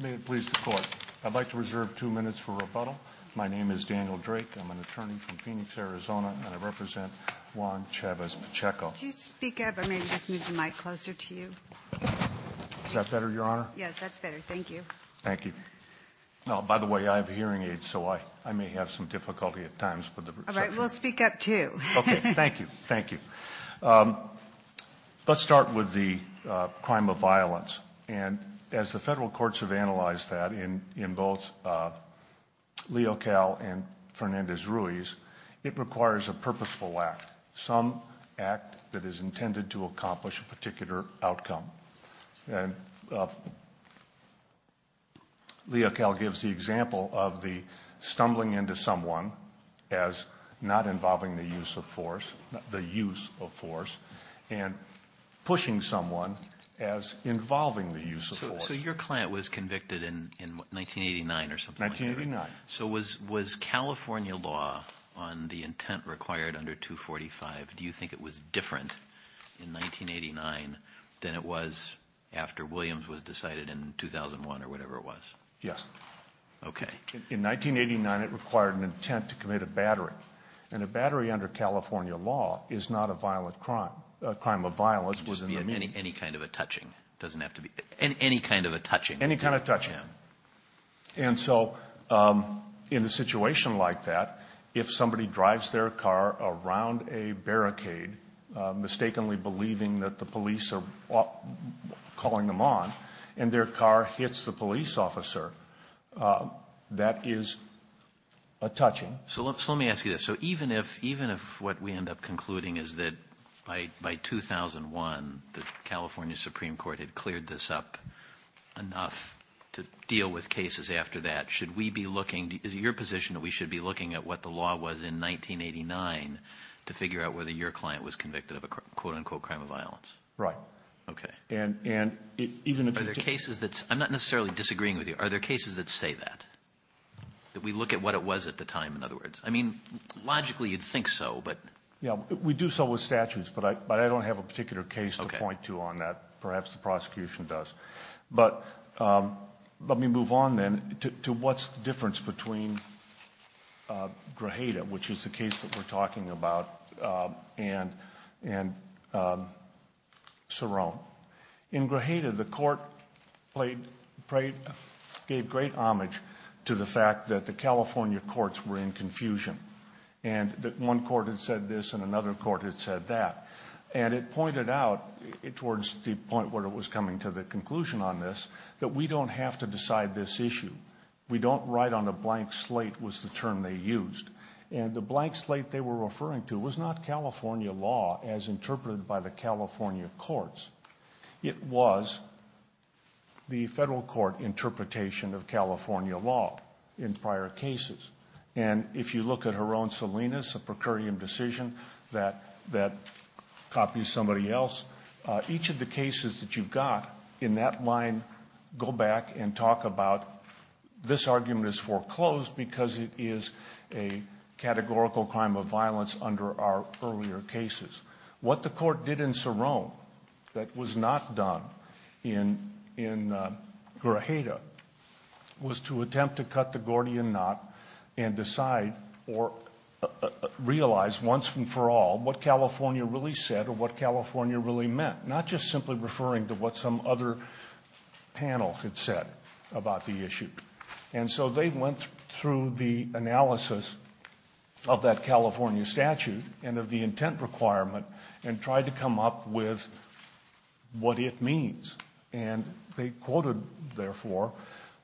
May it please the Court. I'd like to reserve two minutes for rebuttal. My name is Daniel Drake. I'm an attorney from Phoenix, Arizona, and I represent Juan Chavez-Pacheco. Could you speak up, or may I just move the mic closer to you? Is that better, Your Honor? Yes, that's better. Thank you. Thank you. Oh, by the way, I have hearing aids, so I may have some difficulty at times with the reception. All right. We'll speak up, too. Okay. Thank you. Thank you. Let's start with the crime of violence. And as the federal courts have analyzed that in both Leocal and Fernandez-Ruiz, it requires a purposeful act, some act that is intended to accomplish a particular outcome. And Leocal gives the example of the stumbling into someone as not involving the use of force, the use of force, and pushing someone as involving the use of force. So your client was convicted in 1989 or something like that? 1989. So was California law on the intent required under 245, do you think it was different in 1989 than it was after Williams was decided in 2001 or whatever it was? Yes. Okay. In 1989, it required an intent to commit a battery, and a battery under California law is not a violent crime. A crime of violence was in the meeting. Any kind of a touching. It doesn't have to be. Any kind of a touching. Any kind of touching. Okay. And so in a situation like that, if somebody drives their car around a barricade, mistakenly believing that the police are calling them on, and their car hits the police officer, that is a touching. So let me ask you this. So even if, even if what we end up concluding is that by 2001, the California Supreme Court had cleared this up enough to deal with cases after that, should we be looking, is it your position that we should be looking at what the law was in 1989 to figure out whether your client was convicted of a quote, unquote, crime of violence? Right. Okay. And, and even if it's. Are there cases that's, I'm not necessarily disagreeing with you. Are there cases that say that? That we look at what it was at the time, in other words? I mean, logically you'd think so, but. Yeah, we do so with statutes, but I, but I don't have a particular case to point to on that. Perhaps the prosecution does. But let me move on then to what's the difference between Grajeda, which is the case that we're talking about, and, and Cerrone. In Grajeda, the court played, played, gave great homage to the fact that the California courts were in confusion. And that one court had said this and another court had said that. And it pointed out towards the point where it was coming to the conclusion on this, that we don't have to decide this issue. We don't write on a blank slate, was the term they used. And the blank slate they were referring to was not California law as interpreted by the California courts. It was the federal court interpretation of California law in prior cases. And if you look at her own Salinas, a per curiam decision that, that copies somebody else, each of the cases that you've got in that line go back and talk about, this argument is foreclosed because it is a categorical crime of violence under our earlier cases. What the court did in Cerrone that was not done in, in Grajeda, was to attempt to cut the Gordian knot and decide or realize once and for all what California really said or what California really meant. Not just simply referring to what some other panel had said about the issue. And so they went through the analysis of that California statute and of the intent requirement and tried to come up with what it means. And they quoted, therefore,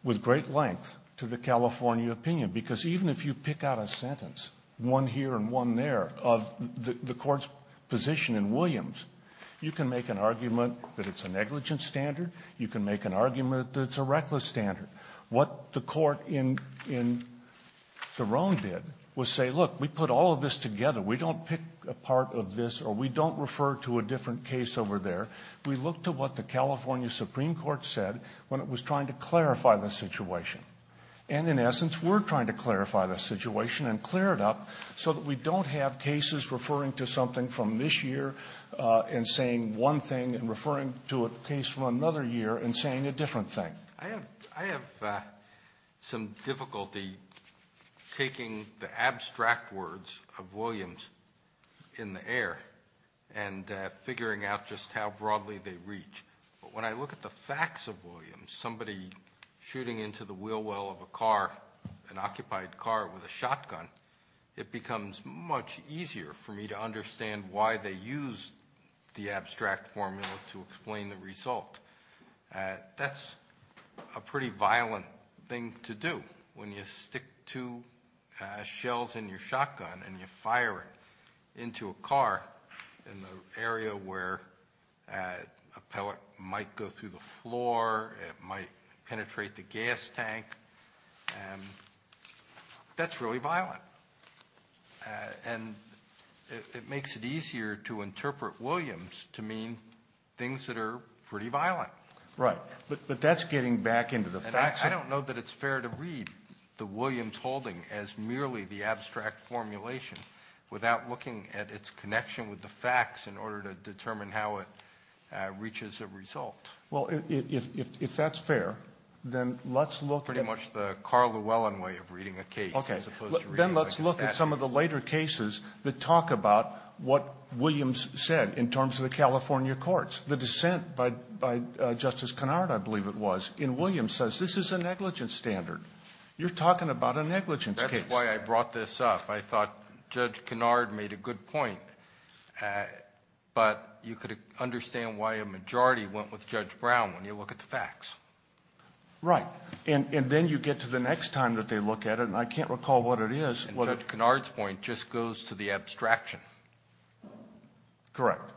with great length to the California opinion. Because even if you pick out a sentence, one here and one there, of the court's position in Williams, you can make an argument that it's a negligent standard. You can make an argument that it's a reckless standard. What the court in, in Cerrone did was say, look, we put all of this together. We don't pick a part of this or we don't refer to a different case over there. We look to what the California Supreme Court said when it was trying to clarify the situation. And in essence, we're trying to clarify the situation and clear it up so that we don't have cases referring to something from this year and saying one thing and referring to a case from another year and saying a different thing. Alitoson I have, I have some difficulty taking the abstract words of Williams in the air and figuring out just how broadly they reach. But when I look at the facts of Williams, somebody shooting into the wheel well of a car, an occupied car with a shotgun, it becomes much easier for me to understand why they used the abstract formula to explain the result. That's a pretty violent thing to do when you stick two shells in your shotgun and you fire it into a car in the area where a pellet might go through the floor. It might penetrate the gas tank. And that's really violent. And it makes it easier to interpret Williams to mean things that are pretty violent. Right. But that's getting back into the facts. I don't know that it's fair to read the Williams holding as merely the abstract formulation without looking at its connection with the facts in order to determine how it reaches a result. Well, if that's fair, then let's look at the car Llewellyn way of reading a case. Okay. Then let's look at some of the later cases that talk about what Williams said in terms of the California courts. The dissent by Justice Kennard, I believe it was, in Williams says this is a negligence standard. You're talking about a negligence case. That's why I brought this up. I thought Judge Kennard made a good point, but you could understand why a majority went with Judge Brown when you look at the facts. Right. And then you get to the next time that they look at it, and I can't recall what it is. And Judge Kennard's point just goes to the abstraction. Correct.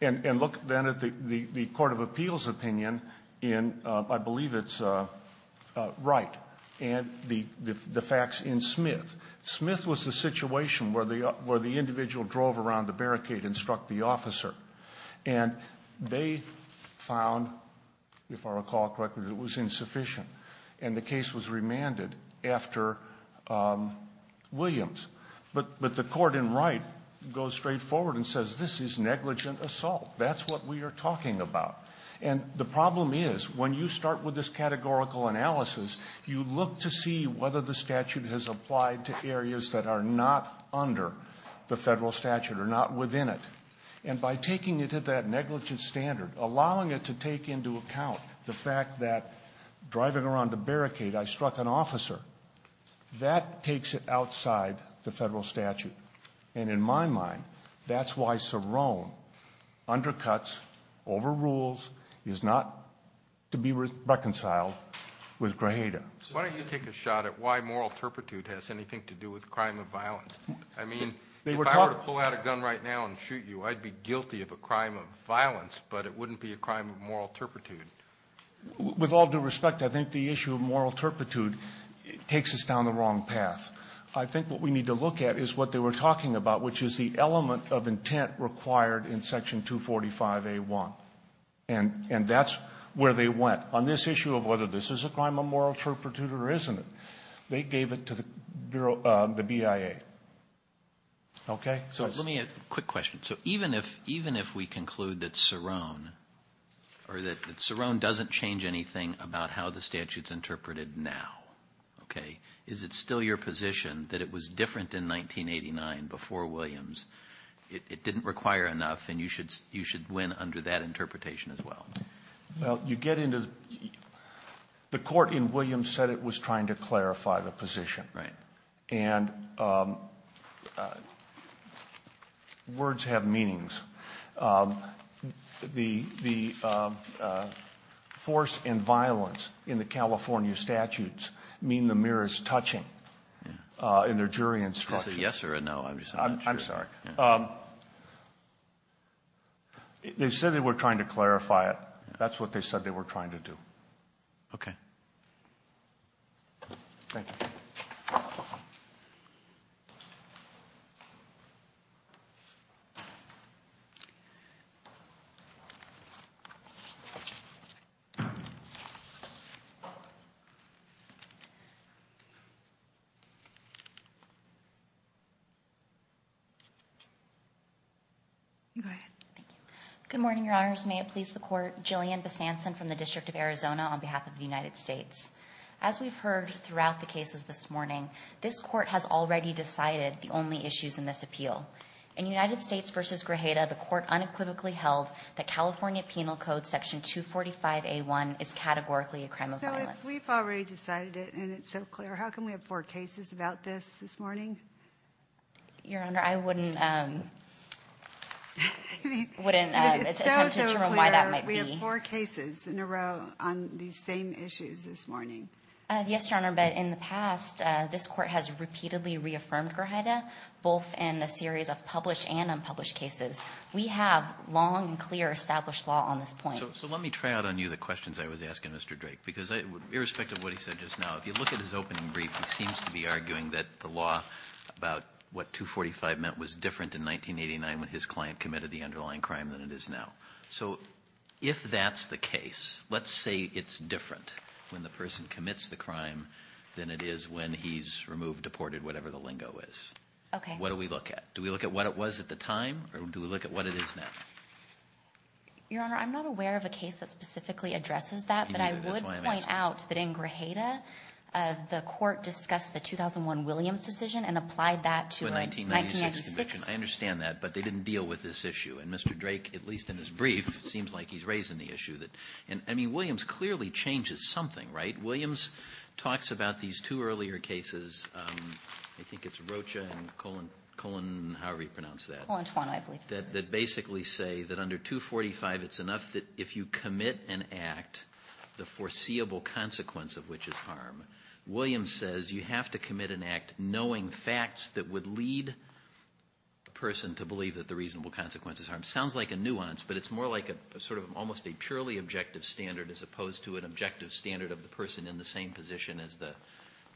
And look then at the court of appeals' opinion in, I believe it's Wright, and the facts in Smith. Smith was the situation where the individual drove around the barricade and struck the officer. And they found, if I recall correctly, that it was insufficient. And the case was remanded after Williams. But the court in Wright goes straight forward and says this is negligent assault. That's what we are talking about. And the problem is, when you start with this categorical analysis, you look to see whether the statute has applied to areas that are not under the Federal statute or not within it. And by taking it at that negligence standard, allowing it to take into account the fact that driving around the barricade, I struck an officer, that takes it outside the Federal statute. And in my mind, that's why Sorone undercuts, overrules, is not to be reconciled with Grajeda. Why don't you take a shot at why moral turpitude has anything to do with crime of violence? I mean, if I were to pull out a gun right now and shoot you, I'd be guilty of a crime of violence, but it wouldn't be a crime of moral turpitude. With all due respect, I think the issue of moral turpitude takes us down the wrong path. I think what we need to look at is what they were talking about, which is the element of intent required in Section 245A.1. And that's where they went. On this issue of whether this is a crime of moral turpitude or isn't it, they gave it to the BIA. Okay? So let me ask a quick question. So even if we conclude that Sorone, or that Sorone doesn't change anything about how the statute is interpreted now, okay? Is it still your position that it was different in 1989 before Williams? It didn't require enough, and you should win under that interpretation as well. Well, you get into the court in Williams said it was trying to clarify the position. Right. And words have meanings. Okay. Thank you. You go ahead. Thank you. Good morning, Your Honors. May it please the Court. Jillian Besanson from the District of Arizona on behalf of the United States. As we've heard throughout the cases this morning, this Court has already decided the only issues in this appeal. In United States v. Grajeda, the Court unequivocally held that California Penal Code Section 245A.1 is categorically a crime of violence. So if we've already decided it, and it's so clear, how come we have four cases about this this morning? Your Honor, I wouldn't attempt to determine why that might be. It's so, so clear. We have four cases in a row on these same issues this morning. Yes, Your Honor, but in the past, this Court has repeatedly reaffirmed Grajeda, both in a series of published and unpublished cases. We have long and clear established law on this point. So let me try out on you the questions I was asking Mr. Drake. Because irrespective of what he said just now, if you look at his opening brief, he seems to be arguing that the law about what 245 meant was different in 1989 when his client committed the underlying crime than it is now. So if that's the case, let's say it's different when the person commits the crime than it is when he's removed, deported, whatever the lingo is. Okay. What do we look at? Do we look at what it was at the time, or do we look at what it is now? Your Honor, I'm not aware of a case that specifically addresses that, but I would point out that in Grajeda, the Court discussed the 2001 Williams decision and applied that to a 1996 conviction. I understand that, but they didn't deal with this issue. And Mr. Drake, at least in his brief, seems like he's raising the issue. I mean, Williams clearly changes something, right? Williams talks about these two earlier cases. I think it's Rocha and Colon, however you pronounce that. Colantwano, I believe. That basically say that under 245, it's enough that if you commit an act, the foreseeable consequence of which is harm. Williams says you have to commit an act knowing facts that would lead the person to believe that the reasonable consequence is harm. It sounds like a nuance, but it's more like sort of almost a purely objective standard as opposed to an objective standard of the person in the same position as the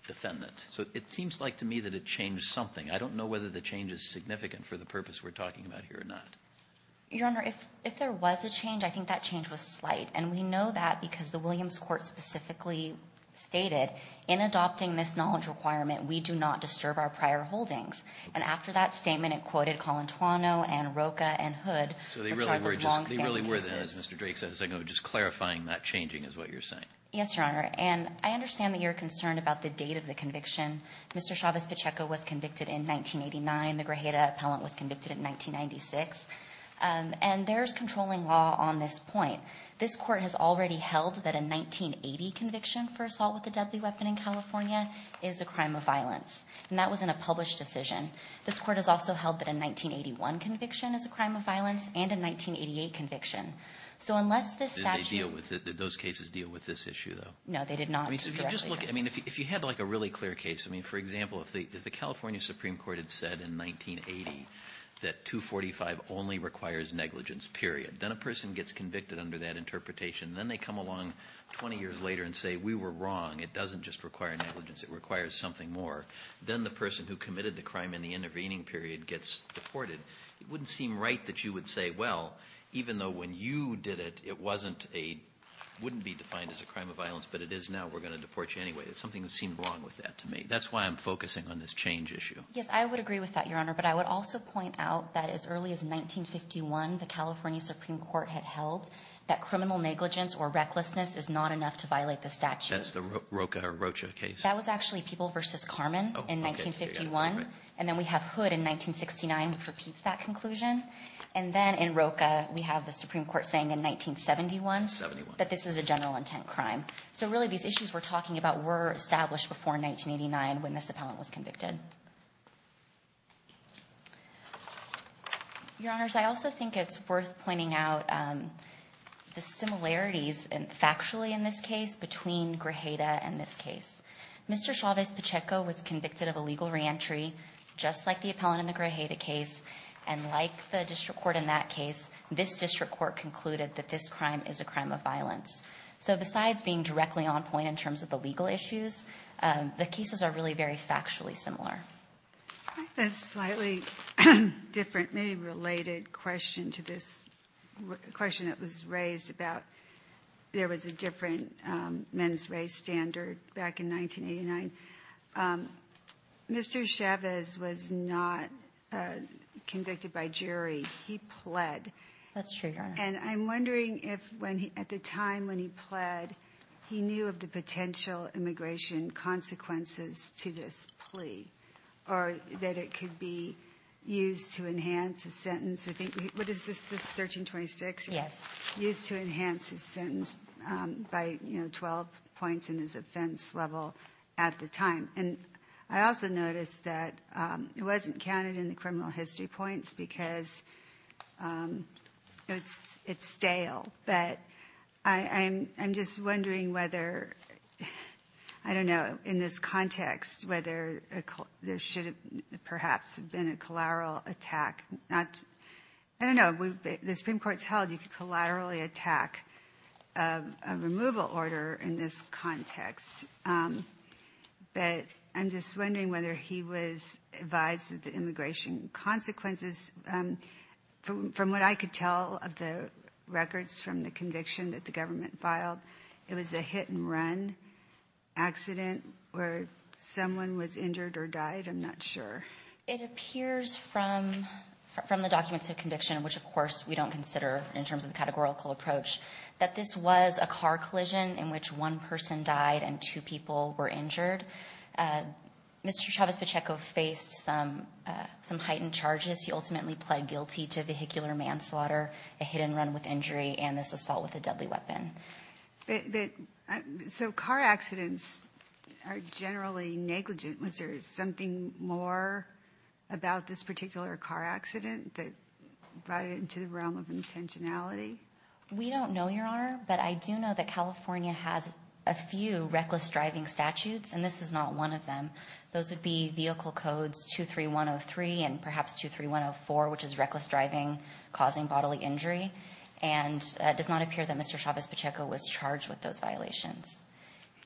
defendant. So it seems like to me that it changed something. I don't know whether the change is significant for the purpose we're talking about here or not. Your Honor, if there was a change, I think that change was slight. And we know that because the Williams Court specifically stated, in adopting this knowledge requirement, we do not disturb our prior holdings. And after that statement, it quoted Colantwano and Rocha and Hood. So they really were just as Mr. Drake said, just clarifying that changing is what you're saying. Yes, Your Honor. And I understand that you're concerned about the date of the conviction. Mr. Chavez Pacheco was convicted in 1989. The Grajeda appellant was convicted in 1996. And there's controlling law on this point. This Court has already held that a 1980 conviction for assault with a deadly weapon in California is a crime of violence. And that was in a published decision. This Court has also held that a 1981 conviction is a crime of violence and a 1988 conviction. So unless this statute ---- Did they deal with it? Did those cases deal with this issue, though? No, they did not. I mean, if you had like a really clear case. I mean, for example, if the California Supreme Court had said in 1980 that 245 only requires negligence, period. Then a person gets convicted under that interpretation. Then they come along 20 years later and say, we were wrong. It doesn't just require negligence. It requires something more. Then the person who committed the crime in the intervening period gets deported. It wouldn't seem right that you would say, well, even though when you did it, it wasn't a ---- We're going to deport you anyway. There's something that seemed wrong with that to me. That's why I'm focusing on this change issue. Yes, I would agree with that, Your Honor. But I would also point out that as early as 1951, the California Supreme Court had held that criminal negligence or recklessness is not enough to violate the statute. That's the Roca or Rocha case? That was actually People v. Carman in 1951. And then we have Hood in 1969, which repeats that conclusion. And then in Roca, we have the Supreme Court saying in 1971 that this is a general intent crime. So really, these issues we're talking about were established before 1989 when this appellant was convicted. Your Honors, I also think it's worth pointing out the similarities factually in this case between Grajeda and this case. Mr. Chavez Pacheco was convicted of illegal reentry, just like the appellant in the Grajeda case. And like the district court in that case, this district court concluded that this crime is a crime of violence. So besides being directly on point in terms of the legal issues, the cases are really very factually similar. I have a slightly different, maybe related question to this question that was raised about there was a different men's race standard back in 1989. Mr. Chavez was not convicted by jury. That's true, Your Honor. And I'm wondering if at the time when he pled, he knew of the potential immigration consequences to this plea, or that it could be used to enhance his sentence. What is this, 1326? Yes. Used to enhance his sentence by 12 points in his offense level at the time. And I also noticed that it wasn't counted in the criminal history points because it's stale. But I'm just wondering whether, I don't know, in this context, whether there should have perhaps been a collateral attack. I don't know, the Supreme Court's held you could collaterally attack a removal order in this context. But I'm just wondering whether he was advised of the immigration consequences. From what I could tell of the records from the conviction that the government filed, it was a hit and run accident where someone was injured or died. I'm not sure. It appears from the documents of conviction, which of course we don't consider in terms of the categorical approach, that this was a car collision in which one person died and two people were injured. Mr. Chavez Pacheco faced some heightened charges. He ultimately pled guilty to vehicular manslaughter, a hit and run with injury, and this assault with a deadly weapon. So car accidents are generally negligent. Was there something more about this particular car accident that brought it into the realm of intentionality? We don't know, Your Honor. But I do know that California has a few reckless driving statutes, and this is not one of them. Those would be Vehicle Codes 23103 and perhaps 23104, which is reckless driving causing bodily injury. And it does not appear that Mr. Chavez Pacheco was charged with those violations.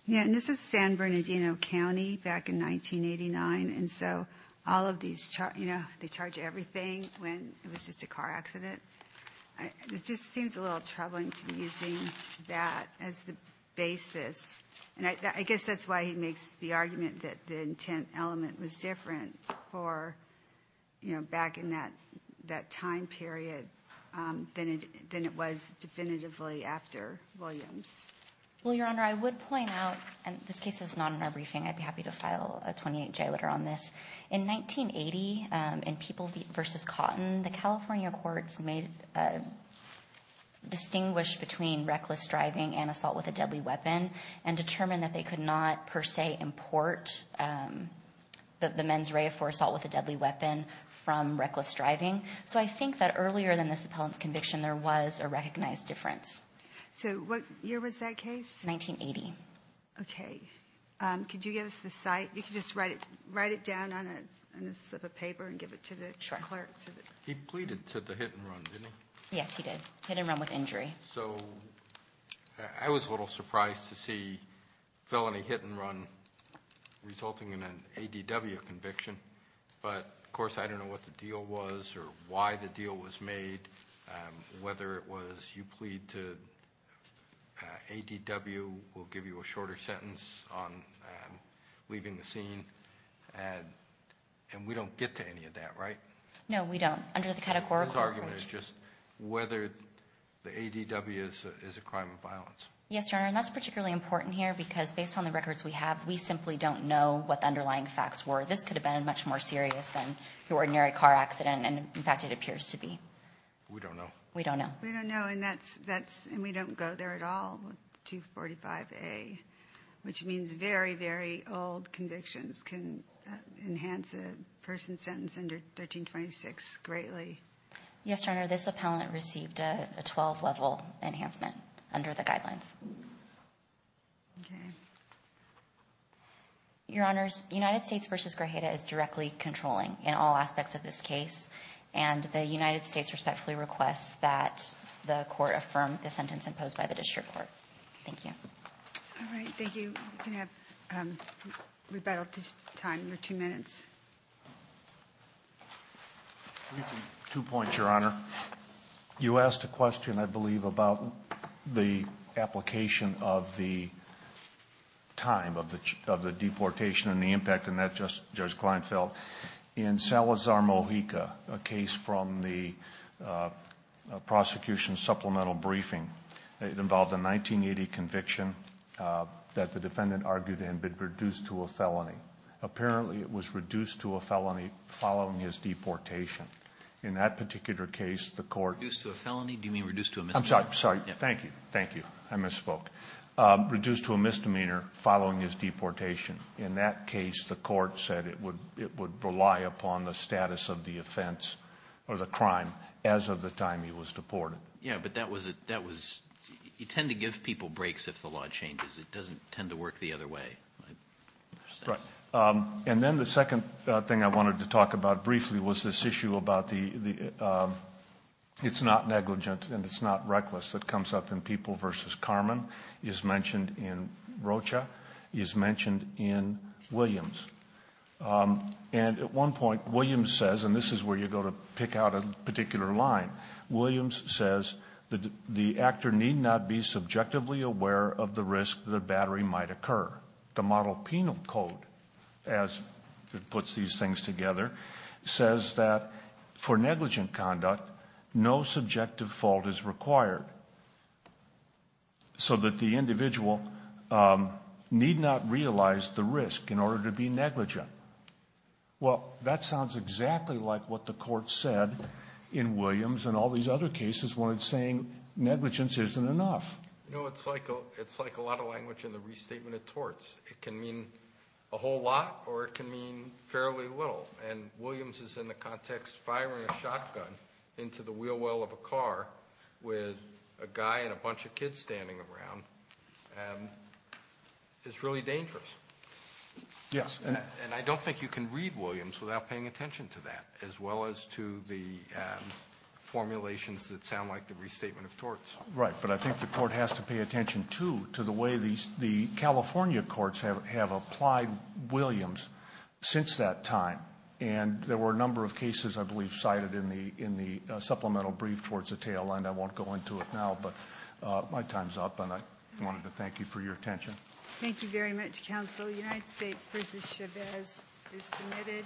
Yeah, and this is San Bernardino County back in 1989. And so all of these, you know, they charge everything when it was just a car accident. It just seems a little troubling to be using that as the basis. And I guess that's why he makes the argument that the intent element was different for, you know, back in that time period than it was definitively after Williams. Well, Your Honor, I would point out, and this case is not in our briefing. I'd be happy to file a 28-J letter on this. In 1980, in People v. Cotton, the California courts distinguished between reckless driving and assault with a deadly weapon and determined that they could not per se import the mens rea for assault with a deadly weapon from reckless driving. So I think that earlier than this appellant's conviction, there was a recognized difference. So what year was that case? 1980. Okay. Could you give us the site? You could just write it down on a slip of paper and give it to the clerk. Sure. He pleaded to the hit and run, didn't he? Yes, he did. Hit and run with injury. So I was a little surprised to see felony hit and run resulting in an ADW conviction. But, of course, I don't know what the deal was or why the deal was made, whether it was you plead to ADW, we'll give you a shorter sentence on leaving the scene. And we don't get to any of that, right? No, we don't, under the categorical approach. His argument is just whether the ADW is a crime of violence. Yes, Your Honor, and that's particularly important here because, based on the records we have, we simply don't know what the underlying facts were. So this could have been much more serious than your ordinary car accident. And, in fact, it appears to be. We don't know. We don't know. We don't know, and we don't go there at all with 245A, which means very, very old convictions can enhance a person sentenced under 1326 greatly. Yes, Your Honor, this appellant received a 12-level enhancement under the guidelines. Okay. Your Honors, United States v. Grajeda is directly controlling in all aspects of this case, and the United States respectfully requests that the Court affirm the sentence imposed by the district court. Thank you. All right. Thank you. We can have rebellious time for two minutes. Two points, Your Honor. You asked a question, I believe, about the application of the time of the deportation and the impact, and that, Judge Kleinfeld. In Salazar-Mojica, a case from the prosecution's supplemental briefing, it involved a 1980 conviction that the defendant argued had been reduced to a felony. Apparently, it was reduced to a felony following his deportation. In that particular case, the Court ---- Reduced to a felony? Do you mean reduced to a misdemeanor? I'm sorry. Thank you. Thank you. I misspoke. Reduced to a misdemeanor following his deportation. In that case, the Court said it would rely upon the status of the offense or the crime as of the time he was deported. Yes, but that was ---- you tend to give people breaks if the law changes. It doesn't tend to work the other way. Right. And then the second thing I wanted to talk about briefly was this issue about the ---- it's not negligent and it's not reckless that comes up in People v. Carman, is mentioned in Rocha, is mentioned in Williams. And at one point, Williams says, and this is where you go to pick out a particular line, Williams says the actor need not be subjectively aware of the risk that a battery might occur. The model penal code, as it puts these things together, says that for negligent conduct, no subjective fault is required, so that the individual need not realize the risk in order to be negligent. Well, that sounds exactly like what the Court said in Williams and all these other cases when it's saying negligence isn't enough. No, it's like a lot of language in the restatement of torts. It can mean a whole lot or it can mean fairly little, and Williams is in the context firing a shotgun into the wheel well of a car with a guy and a bunch of kids standing around. It's really dangerous. Yes. And I don't think you can read Williams without paying attention to that, as well as to the formulations that sound like the restatement of torts. Right, but I think the Court has to pay attention, too, to the way the California courts have applied Williams since that time. And there were a number of cases, I believe, cited in the supplemental brief towards the tail end. I won't go into it now, but my time's up, and I wanted to thank you for your attention. Thank you very much, Counsel. The United States v. Chavez is submitted.